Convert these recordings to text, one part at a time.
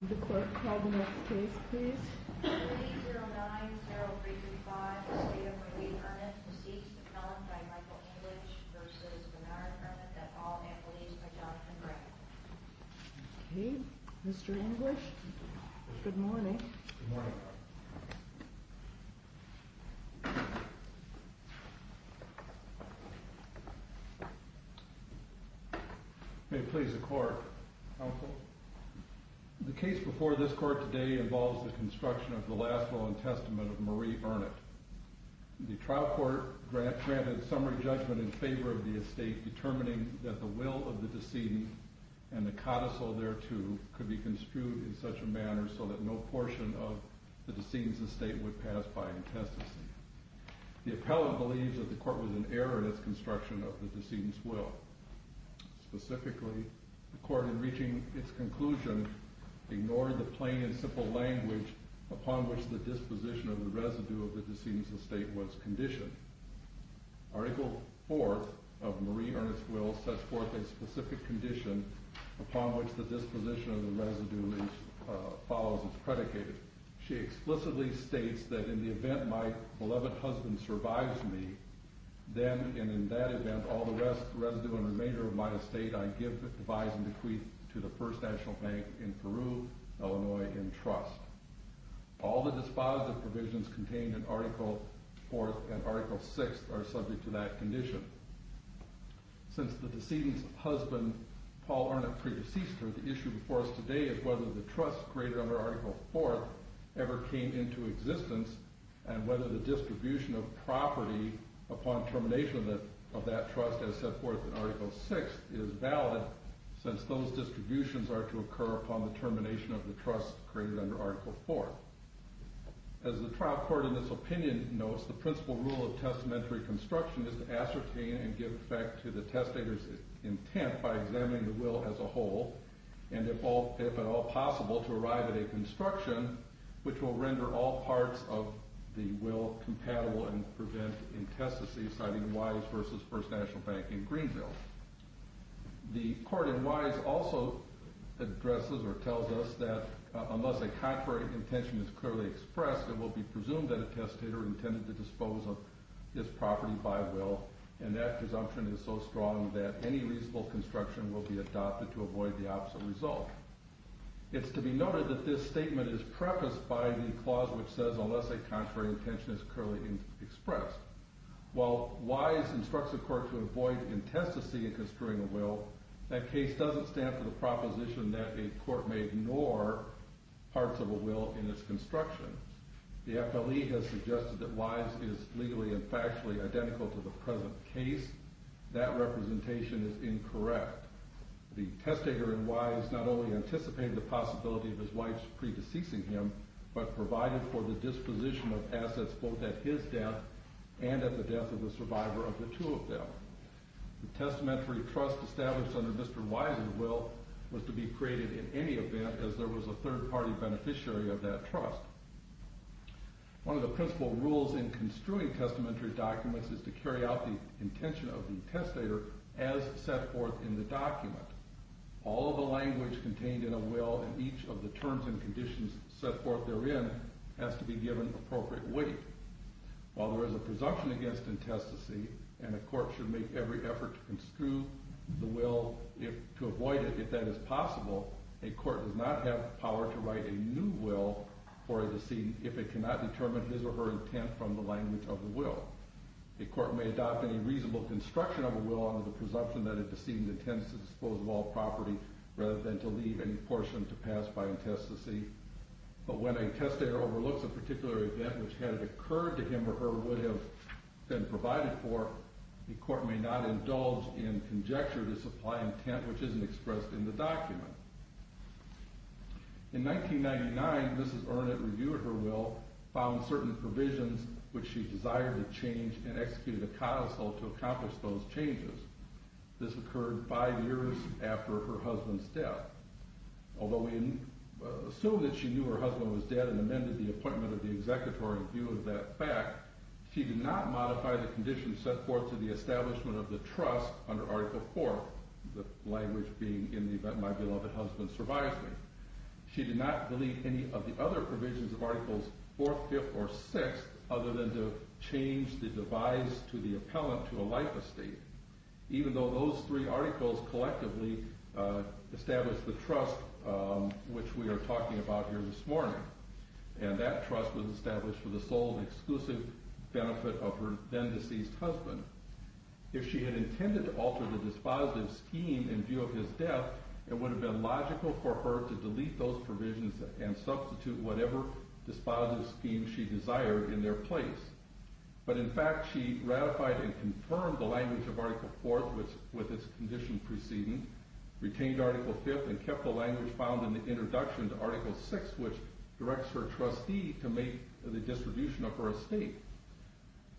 The court called the next case, please. Mr English. Good morning. Please, the court, the case before this court today involves the construction of the last law and testament of Marie Burnett. The trial court granted summary judgment in favor of the estate, determining that the will of the decedent and the codicil thereto could be construed in such a manner so that no portion of the decedent's estate would pass by in testament. The appellate believes that the court was in error in its construction of the decedent's will. Specifically, the court, in reaching its conclusion, ignored the plain and simple language upon which the disposition of the residue of the decedent's estate was conditioned. Article 4 of Marie Ernest Will sets forth a specific condition upon which the disposition of the residue follows as predicated. She explicitly states that in the event my beloved husband survives me, then, and in that event, all the rest, residue, and remainder of my estate I give devise and decree to the First National Bank in Peru, Illinois, in trust. All the dispositive provisions contained in Article 4 and Article 6 are subject to that condition. Since the decedent's husband, Paul Arnott, pre-deceased her, the issue before us today is whether the trust created under Article 4 ever came into existence and whether the distribution of property upon termination of that trust as set forth in Article 6 is valid since those distributions are to occur upon the termination of the trust created under Article 4. As the trial court in this opinion notes, the principal rule of testamentary construction is to ascertain and give effect to the testator's intent by examining the will as a whole and, if at all possible, to arrive at a construction which will render all parts of the will compatible and prevent incestacies, citing Wise v. First National Bank in Greenville. The court in Wise also addresses or tells us that unless a contrary intention is clearly expressed, it will be presumed that a testator intended to dispose of his property by will, and that presumption is so strong that any reasonable construction will be adopted to avoid the opposite result. It's to be noted that this statement is prefaced by the clause which says unless a contrary intention is clearly expressed. While Wise instructs the court to avoid incestacy in construing a will, that case doesn't stand for the proposition that a court may ignore parts of a will in its construction. The FLE has suggested that Wise is legally and factually identical to the present case. That representation is incorrect. The testator in Wise not only anticipated the possibility of his wife's pre-deceasing him, but provided for the disposition of assets both at his death and at the death of the survivor of the two of them. The testamentary trust established under Mr. Wise's will was to be created in any event as there was a third party beneficiary of that trust. One of the principal rules in construing testamentary documents is to carry out the intention of the testator as set forth in the document. All of the language contained in a will and each of the terms and conditions set forth therein has to be given appropriate weight. While there is a presumption against incestacy, and a court should make every effort to construe the will to avoid it if that is possible, a court does not have the power to write a new will for a decedent if it cannot determine his or her intent from the language of the will. A court may adopt any reasonable construction of a will under the presumption that a decedent intends to dispose of all property rather than to leave any portion to pass by incestacy, but when a testator overlooks a particular event which had occurred to him or her would have been provided for, the court may not indulge in conjecture to supply intent which isn't expressed in the document. In 1999, Mrs. Earnett reviewed her will, found certain provisions which she desired to change, and executed a codicil to accomplish those changes. This occurred five years after her husband's death. Although we assume that she knew her husband was dead and amended the appointment of the executor in view of that fact, she did not modify the conditions set forth to the establishment of the trust under Article IV, the language being, in the event my beloved husband survives me. She did not delete any of the other provisions of Articles IV, V, or VI other than to change the devise to the appellant to a life estate, even though those three articles collectively established the trust which we are talking about here this morning, and that trust was established for the sole and exclusive benefit of her then deceased husband. If she had intended to alter the dispositive scheme in view of his death, it would have been logical for her to delete those provisions and substitute whatever dispositive scheme she desired in their place. But in fact, she ratified and confirmed the language of Article IV with its conditions preceding, retained Article V, and kept the language found in the introduction to Article VI, which directs her trustee to make the distribution of her estate.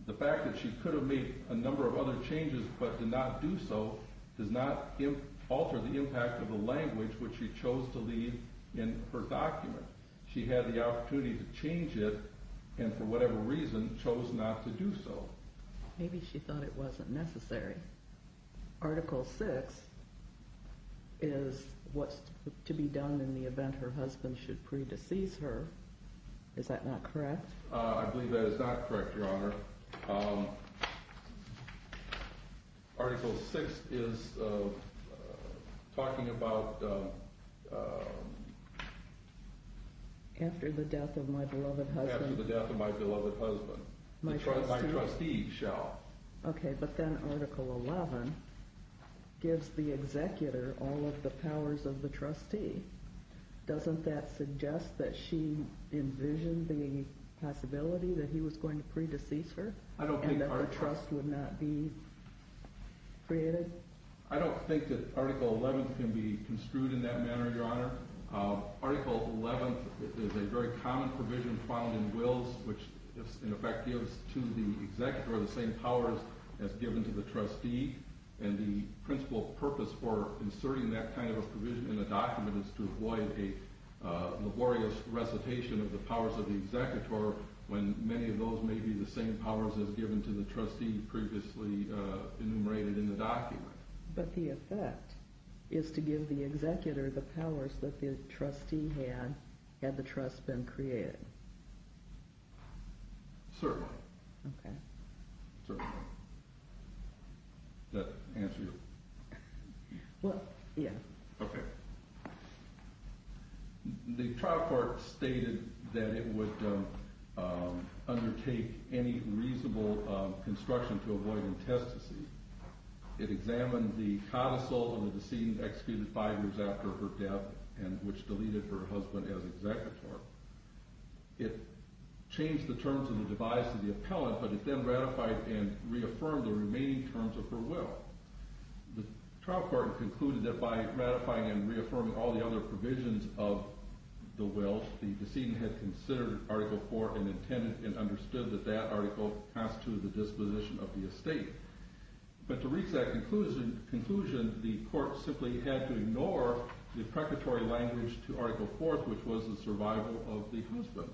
The fact that she could have made a number of other changes but did not do so does not alter the impact of the language which she chose to leave in her document. She had the opportunity to change it, and for whatever reason, chose not to do so. Maybe she thought it wasn't necessary. Article VI is what's to be done in the event her husband should pre-decease her. Is that not correct? I believe that is not correct, Your Honor. Article VI is talking about... After the death of my beloved husband. After the death of my beloved husband. My trustee shall. Okay, but then Article XI gives the executor all of the powers of the trustee. Doesn't that suggest that she envisioned the possibility that he was going to pre-decease her? I don't think... And that the trust would not be created? I don't think that Article XI can be construed in that manner, Your Honor. Article XI is a very common provision found in Wills, which in effect gives to the executor the same powers as given to the trustee. And the principal purpose for inserting that kind of a provision in the document is to avoid a laborious recitation of the powers of the executor, when many of those may be the same powers as given to the trustee previously enumerated in the document. But the effect is to give the executor the powers that the trustee had, had the trust been created. Certainly. Okay. Certainly. Does that answer your question? Well, yeah. Okay. The trial court stated that it would undertake any reasonable construction to avoid intestacy. It examined the codicil and the decedent executed five years after her death, which deleted her husband as executor. It changed the terms of the device of the appellant, but it then ratified and reaffirmed the remaining terms of her will. The trial court concluded that by ratifying and reaffirming all the other provisions of the will, the decedent had considered Article IV and intended and understood that that article constituted the disposition of the estate. But to reach that conclusion, the court simply had to ignore the preparatory language to Article IV, which was the survival of the husband.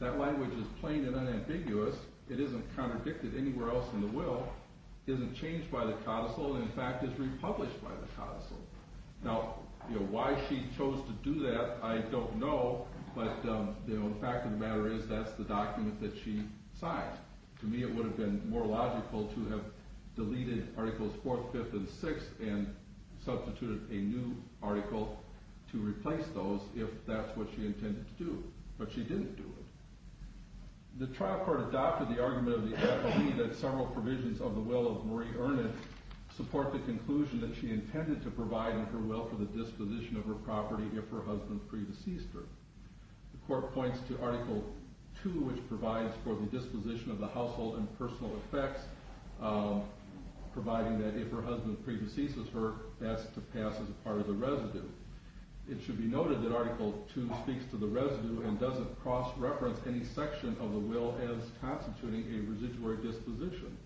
That language is plain and unambiguous. It isn't contradicted anywhere else in the will, isn't changed by the codicil, and in fact is republished by the codicil. Now, why she chose to do that, I don't know, but the fact of the matter is that's the document that she signed. To me, it would have been more logical to have deleted Articles IV, V, and VI and substituted a new article to replace those if that's what she intended to do. But she didn't do it. The trial court adopted the argument of the appellee that several provisions of the will of Marie Ernest support the conclusion that she intended to provide in her will for the disposition of her property if her husband pre-deceased her. The court points to Article II, which provides for the disposition of the household and personal effects, providing that if her husband pre-deceases her, that's to pass as part of the residue. It should be noted that Article II speaks to the residue and doesn't cross-reference any section of the will as constituting a residuary disposition.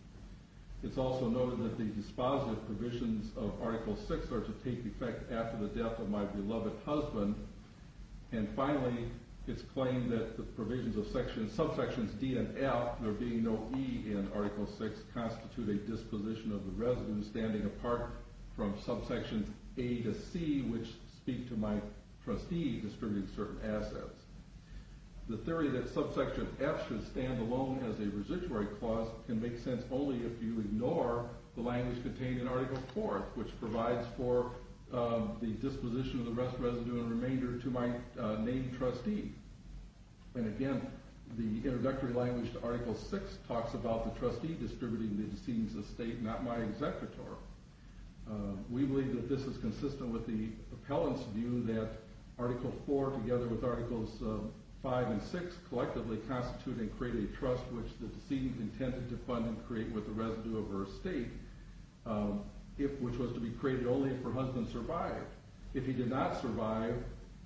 It's also noted that the dispositive provisions of Article VI are to take effect after the death of my beloved husband. And finally, it's claimed that the provisions of subsections D and F, there being no E in Article VI, constitute a disposition of the residue standing apart from subsections A to C, which speak to my trustee distributing certain assets. The theory that subsection F should stand alone as a residuary clause can make sense only if you ignore the language contained in Article IV, which provides for the disposition of the rest of the residue and remainder to my named trustee. And again, the introductory language to Article VI talks about the trustee distributing the estates of state, not my executor. We believe that this is consistent with the appellant's view that Article IV, together with Articles V and VI, collectively constitute and create a trust which the decedent intended to fund and create with the residue of her estate, which was to be created only if her husband survived. If he did not survive,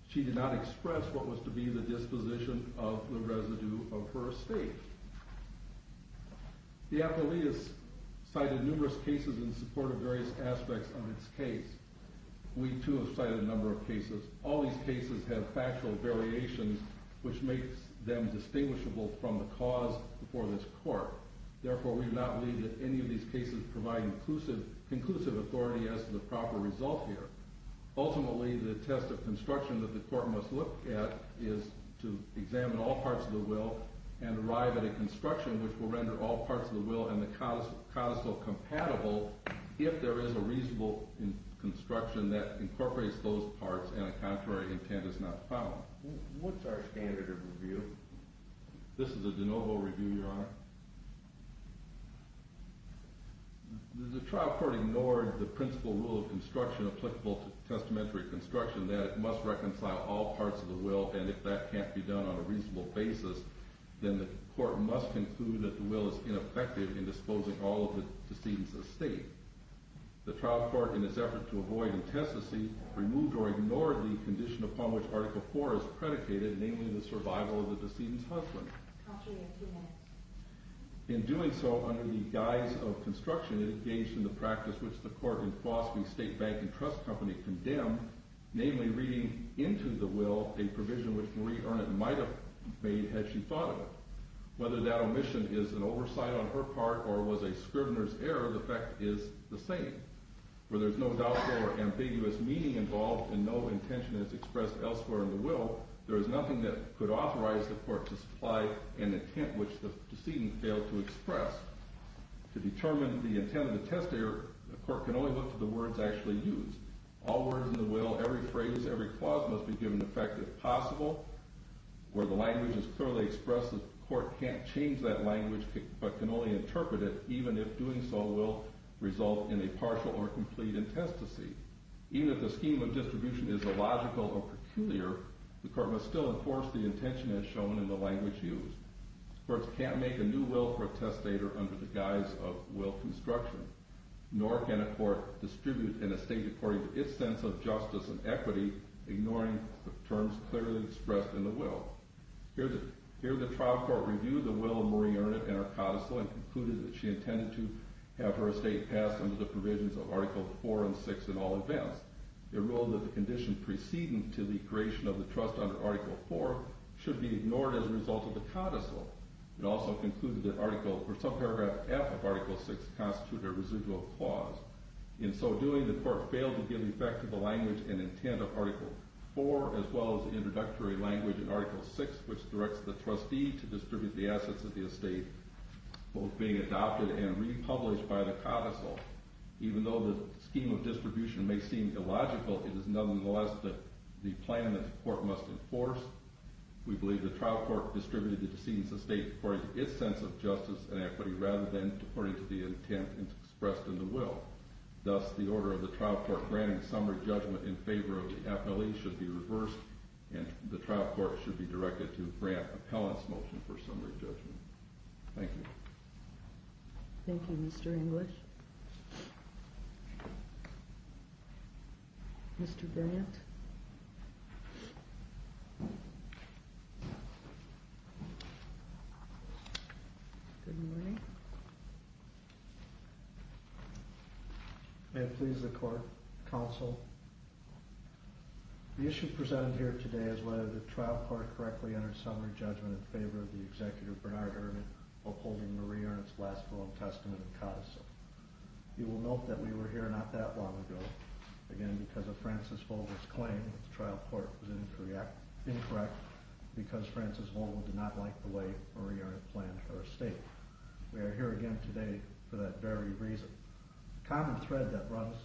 she did not express what was to be the disposition of the residue of her estate. The appellee has cited numerous cases in support of various aspects of its case. We, too, have cited a number of cases. All these cases have factual variations which makes them distinguishable from the cause before this court. Therefore, we do not believe that any of these cases provide conclusive authority as to the proper result here. Ultimately, the test of construction that the court must look at is to examine all parts of the will and arrive at a construction which will render all parts of the will and the codicil compatible if there is a reasonable construction that incorporates those parts and a contrary intent is not found. What's our standard of review? This is a de novo review, Your Honor. The trial court ignored the principle rule of construction applicable to testamentary construction that it must reconcile all parts of the will, and if that can't be done on a reasonable basis, then the court must conclude that the will is ineffective in disposing all of the decedent's estate. The trial court, in its effort to avoid intestacy, removed or ignored the condition upon which Article IV is predicated, namely the survival of the decedent's husband. In doing so, under the guise of construction, it engaged in the practice which the court in Fosby State Bank and Trust Company condemned, namely reading into the will a provision which Marie Arnott might have made had she thought of it. Whether that omission is an oversight on her part or was a scrivener's error, the fact is the same. Where there is no doubtful or ambiguous meaning involved and no intention is expressed elsewhere in the will, there is nothing that could authorize the court to supply an intent which the decedent failed to express. To determine the intent of the testator, the court can only look to the words actually used. All words in the will, every phrase, every clause must be given effect if possible. Where the language is clearly expressed, the court can't change that language but can only interpret it, even if doing so will result in a partial or complete intestacy. Even if the scheme of distribution is illogical or peculiar, the court must still enforce the intention as shown in the language used. Courts can't make a new will for a testator under the guise of will construction. Nor can a court distribute an estate according to its sense of justice and equity, ignoring the terms clearly expressed in the will. Here the trial court reviewed the will of Marie Arnott and her codicil and concluded that she intended to have her estate passed under the provisions of Article IV and VI in all events. It ruled that the condition preceding to the creation of the trust under Article IV should be ignored as a result of the codicil. It also concluded that some paragraph F of Article VI constituted a residual clause. In so doing, the court failed to give effect to the language and intent of Article IV, as well as the introductory language in Article VI, which directs the trustee to distribute the assets of the estate, both being adopted and republished by the codicil. Even though the scheme of distribution may seem illogical, it is nonetheless the plan that the court must enforce. We believe the trial court distributed the decedent's estate according to its sense of justice and equity, rather than according to the intent expressed in the will. Thus, the order of the trial court granting summary judgment in favor of the appellee should be reversed, and the trial court should be directed to grant appellant's motion for summary judgment. Thank you. Thank you, Mr. English. Mr. Grant. Good morning. May it please the court, counsel. The issue presented here today is whether the trial court correctly entered summary judgment in favor of the Executive Bernard Herman upholding Marie Arnott's last will and testament of codicil. You will note that we were here not that long ago, again, because of Francis Holden's claim that the trial court was incorrect because Francis Holden did not like the way Marie Arnott planned her estate. We are here again today for that very reason. The common thread that runs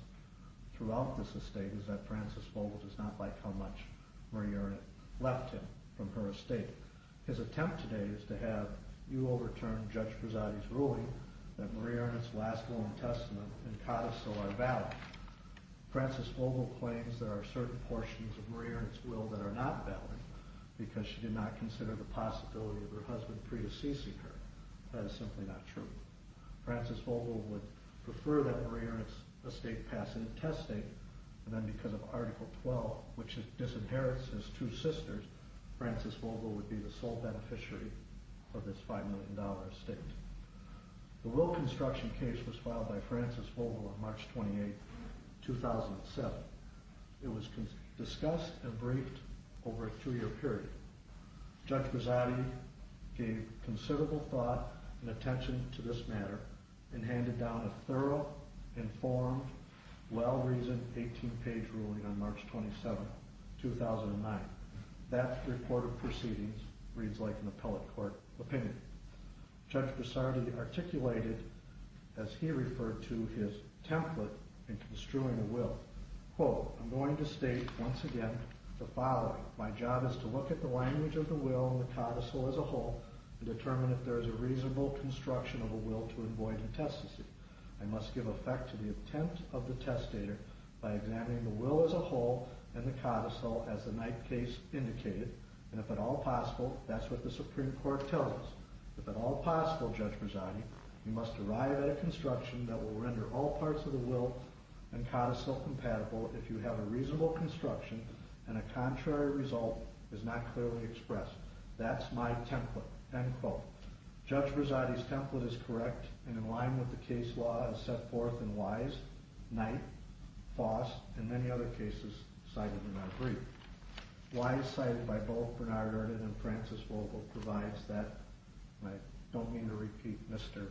throughout this estate is that Francis Holden does not like how much Marie Arnott left him from her estate. His attempt today is to have you overturn Judge Prezzati's ruling that Marie Arnott's last will and testament and codicil are valid. Francis Holden claims there are certain portions of Marie Arnott's will that are not valid, because she did not consider the possibility of her husband predeceasing her. That is simply not true. Francis Holden would prefer that Marie Arnott's estate pass into testing, and then because of Article 12, which disinherits his two sisters, Francis Holden would be the sole beneficiary of this $5 million estate. The will construction case was filed by Francis Holden on March 28, 2007. It was discussed and briefed over a two-year period. Judge Prezzati gave considerable thought and attention to this matter and handed down a thorough, informed, well-reasoned, 18-page ruling on March 27, 2009. That report of proceedings reads like an appellate court opinion. Judge Prezzati articulated, as he referred to his template in construing the will, quote, I'm going to state, once again, the following. My job is to look at the language of the will and the codicil as a whole and determine if there is a reasonable construction of a will to avoid intestacy. I must give effect to the intent of the testator by examining the will as a whole and the codicil as the Knight case indicated, and if at all possible, that's what the Supreme Court tells us. If at all possible, Judge Prezzati, you must arrive at a construction that will render all parts of the will and codicil compatible if you have a reasonable construction and a contrary result is not clearly expressed. That's my template, end quote. Judge Prezzati's template is correct and in line with the case law as set forth in Wise, Knight, Foss, and many other cases cited in our brief. Wise cited by both Bernard Arden and Francis Vogel provides that, and I don't mean to repeat Mr.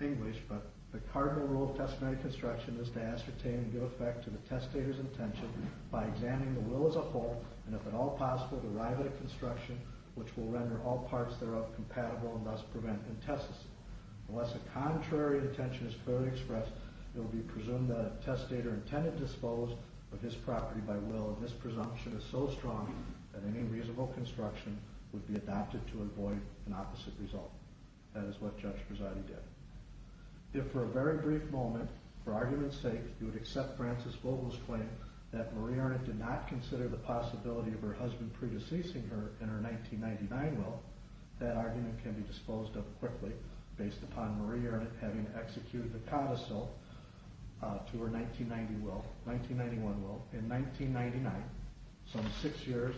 English, but the cardinal rule of testamentary construction is to ascertain and give effect to the testator's intention by examining the will as a whole and, if at all possible, to arrive at a construction which will render all parts thereof compatible and thus prevent intestacy. Unless a contrary intention is clearly expressed, it will be presumed that a testator intended to dispose of his property by will and this presumption is so strong that any reasonable construction would be adopted to avoid an opposite result. That is what Judge Prezzati did. If, for a very brief moment, for argument's sake, you would accept Francis Vogel's claim that Marie Arnott did not consider the possibility of her husband pre-deceasing her in her 1999 will, that argument can be disposed of quickly based upon Marie Arnott having executed the codicil to her 1991 will in 1999, some six years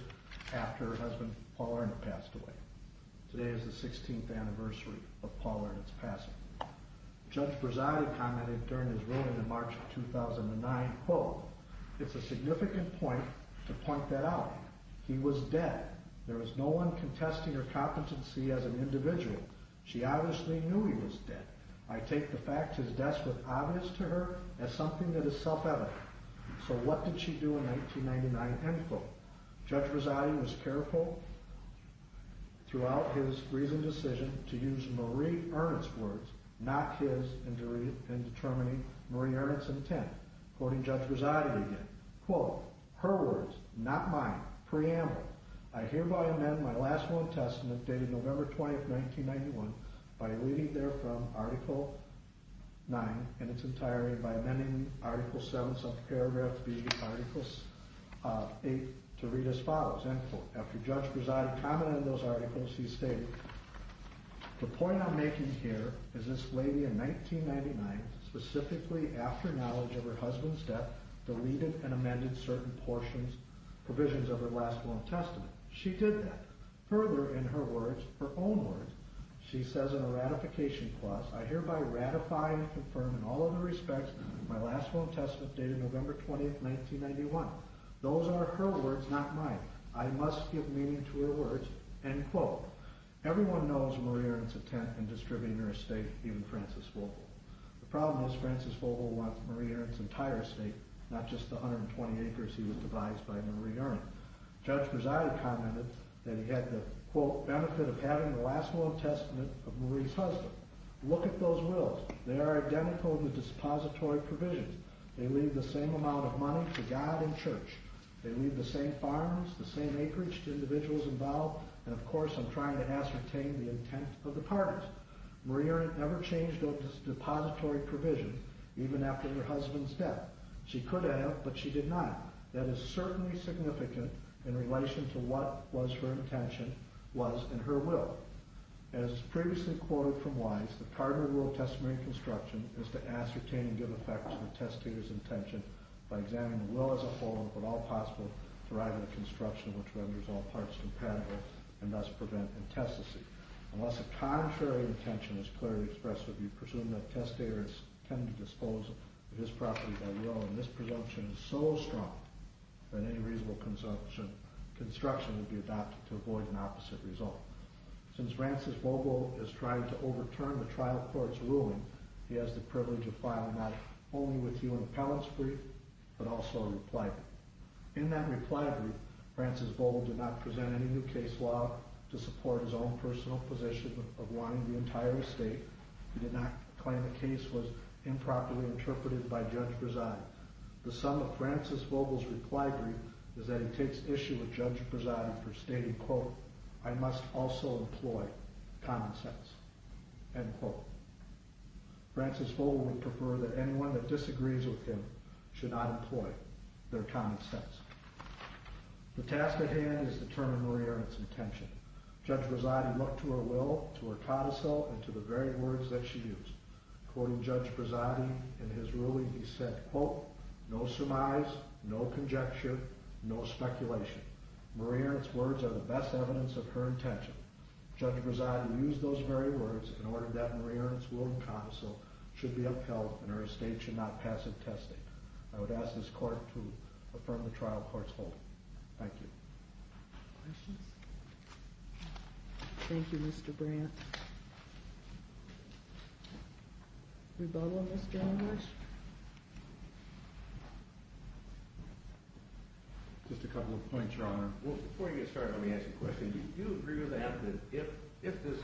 after her husband Paul Arnott passed away. Today is the 16th anniversary of Paul Arnott's passing. Judge Prezzati commented during his ruling in March of 2009, quote, it's a significant point to point that out. He was dead. There was no one contesting her competency as an individual. She obviously knew he was dead. I take the fact his death was obvious to her as something that is self-evident. So what did she do in 1999? End quote. Judge Prezzati was careful throughout his recent decision to use Marie Arnott's words, not his, in determining Marie Arnott's intent. Quoting Judge Prezzati again, quote, her words, not mine. Preamble. I hereby amend my last will and testament dated November 20th, 1991, by leaving there from Article 9 in its entirety by amending Article 7 of Paragraph B, Article 8, to read as follows. End quote. After Judge Prezzati commented on those articles, he stated, the point I'm making here is this lady in 1999, specifically after knowledge of her husband's death, deleted and amended certain portions, provisions of her last will and testament. She did that. Further, in her words, her own words, she says in a ratification clause, I hereby ratify and confirm in all other respects my last will and testament dated November 20th, 1991. Those are her words, not mine. I must give meaning to her words. End quote. Everyone knows Marie Arnott's intent in distributing her estate, even Francis Vogel. The problem is Francis Vogel wants Marie Arnott's entire estate, not just the 120 acres he was devised by Marie Arnott. Judge Prezzati commented that he had the, quote, benefit of having the last will and testament of Marie's husband. Look at those wills. They are identical in the depository provisions. They leave the same amount of money for God and church. They leave the same farms, the same acreage to individuals involved, and of course I'm trying to ascertain the intent of the parties. Marie Arnott never changed a depository provision, even after her husband's death. She could have, but she did not. That is certainly significant in relation to what was her intention, was, and her will. As previously quoted from Wise, the primary rule of testamentary construction is to ascertain and give effect to the testator's intention by examining the will as a whole, if at all possible, to arrive at a construction which renders all parts compatible and thus prevent intestacy. Unless a contrary intention is clearly expressed, you presume that testators tend to dispose of his property by will, and this presumption is so strong that any reasonable construction would be adopted to avoid an opposite result. Since Francis Bobo has tried to overturn the trial court's ruling, he has the privilege of filing not only with you an appellate's brief, but also a reply brief. In that reply brief, Francis Bobo did not present any new case law to support his own personal position of wanting the entire estate. He did not claim the case was improperly interpreted by Judge Brazati. The sum of Francis Bobo's reply brief is that he takes issue with Judge Brazati for stating, quote, I must also employ common sense, end quote. Francis Bobo would prefer that anyone that disagrees with him should not employ their common sense. The task at hand is to determine Maria Ernst's intention. Judge Brazati looked to her will, to her codicil, and to the very words that she used. According to Judge Brazati, in his ruling he said, quote, no surmise, no conjecture, no speculation. Maria Ernst's words are the best evidence of her intention. Judge Brazati used those very words in order that Maria Ernst's will and codicil should be upheld and her estate should not pass in testing. I would ask this court to affirm the trial court's holding. Thank you. Questions? Thank you, Mr. Brandt. Rebuttal, Mr. English? Just a couple of points, Your Honor. Before you get started, let me ask you a question. Do you agree with that, that if this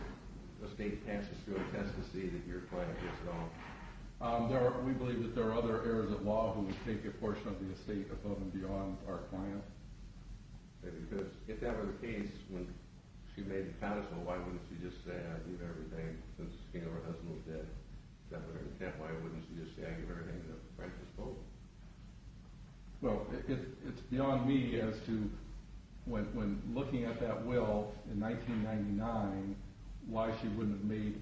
estate passes through a test to see that your client gets it all? We believe that there are other heirs of law who would take a portion of the estate above and beyond our client. Okay, because if that were the case, when she made the codicil, why wouldn't she just say, I leave everything, since the king of her husband was dead? Is that what her intent? Why wouldn't she just say, I give everything to the righteous folk? Well, it's beyond me as to when looking at that will in 1999, why she wouldn't have made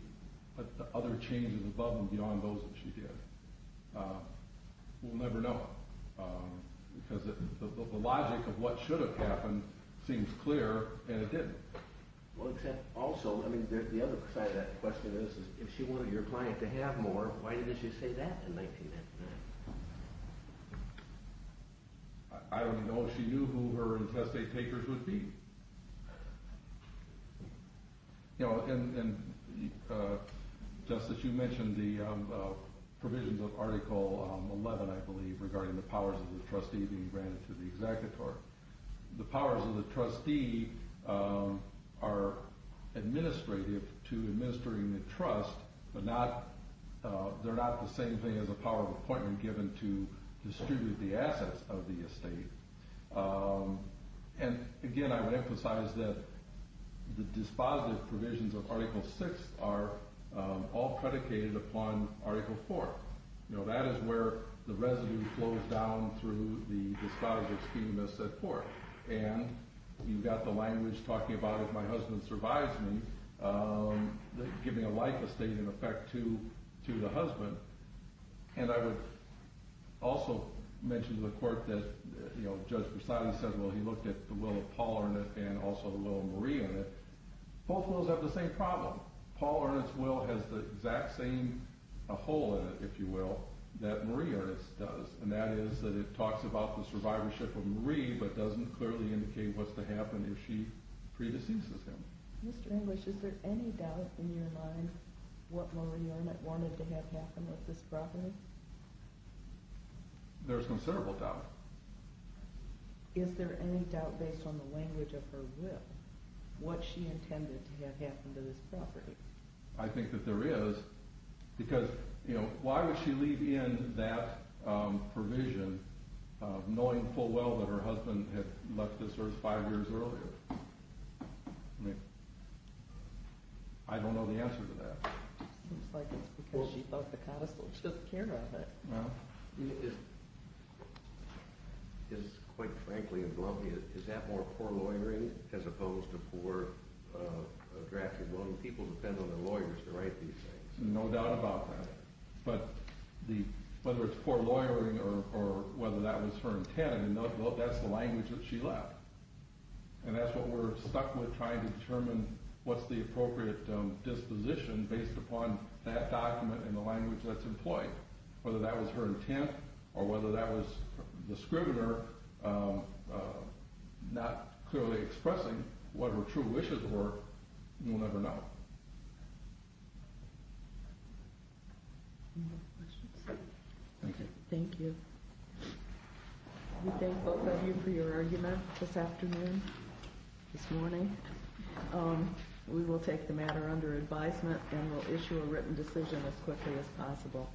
the other changes above and beyond those that she did. We'll never know. Because the logic of what should have happened seems clear, and it didn't. Well, except also, I mean, the other side of that question is, if she wanted your client to have more, why didn't she say that in 1999? I don't know. She knew who her intestate takers would be. And, Justice, you mentioned the provisions of Article 11, I believe, regarding the powers of the trustee being granted to the executor. The powers of the trustee are administrative to administering the trust, but they're not the same thing as the power of appointment given to distribute the assets of the estate. And, again, I would emphasize that the dispositive provisions of Article 6 are all predicated upon Article 4. That is where the residue flows down through the dispositive scheme, as set forth. And you've got the language talking about, if my husband survives me, giving a life estate, in effect, to the husband. And I would also mention to the Court that, you know, Judge Versailles said, well, he looked at the will of Paul Arnett and also the will of Marie Arnett. Both wills have the same problem. Paul Arnett's will has the exact same hole in it, if you will, that Marie Arnett's does, and that is that it talks about the survivorship of Marie, but doesn't clearly indicate what's to happen if she predeceases him. Mr. English, is there any doubt in your mind about what Marie Arnett wanted to have happen with this property? There's considerable doubt. Is there any doubt, based on the language of her will, what she intended to have happen to this property? I think that there is, because, you know, why would she leave in that provision, knowing full well that her husband had left this earth five years earlier? I mean, I don't know the answer to that. It seems like it's because she thought the codicil took care of it. Well, it is, quite frankly and glumly, is that more poor lawyering as opposed to poor drafting? Well, people depend on their lawyers to write these things. No doubt about that. But whether it's poor lawyering or whether that was her intent, I mean, that's the language that she left. And that's what we're stuck with trying to determine what's the appropriate disposition based upon that document and the language that's employed. Whether that was her intent or whether that was the scrivener not clearly expressing what her true wishes were, we'll never know. Any more questions? Thank you. We thank both of you for your argument this afternoon, this morning. We will take the matter under advisement and will issue a written decision as quickly as possible.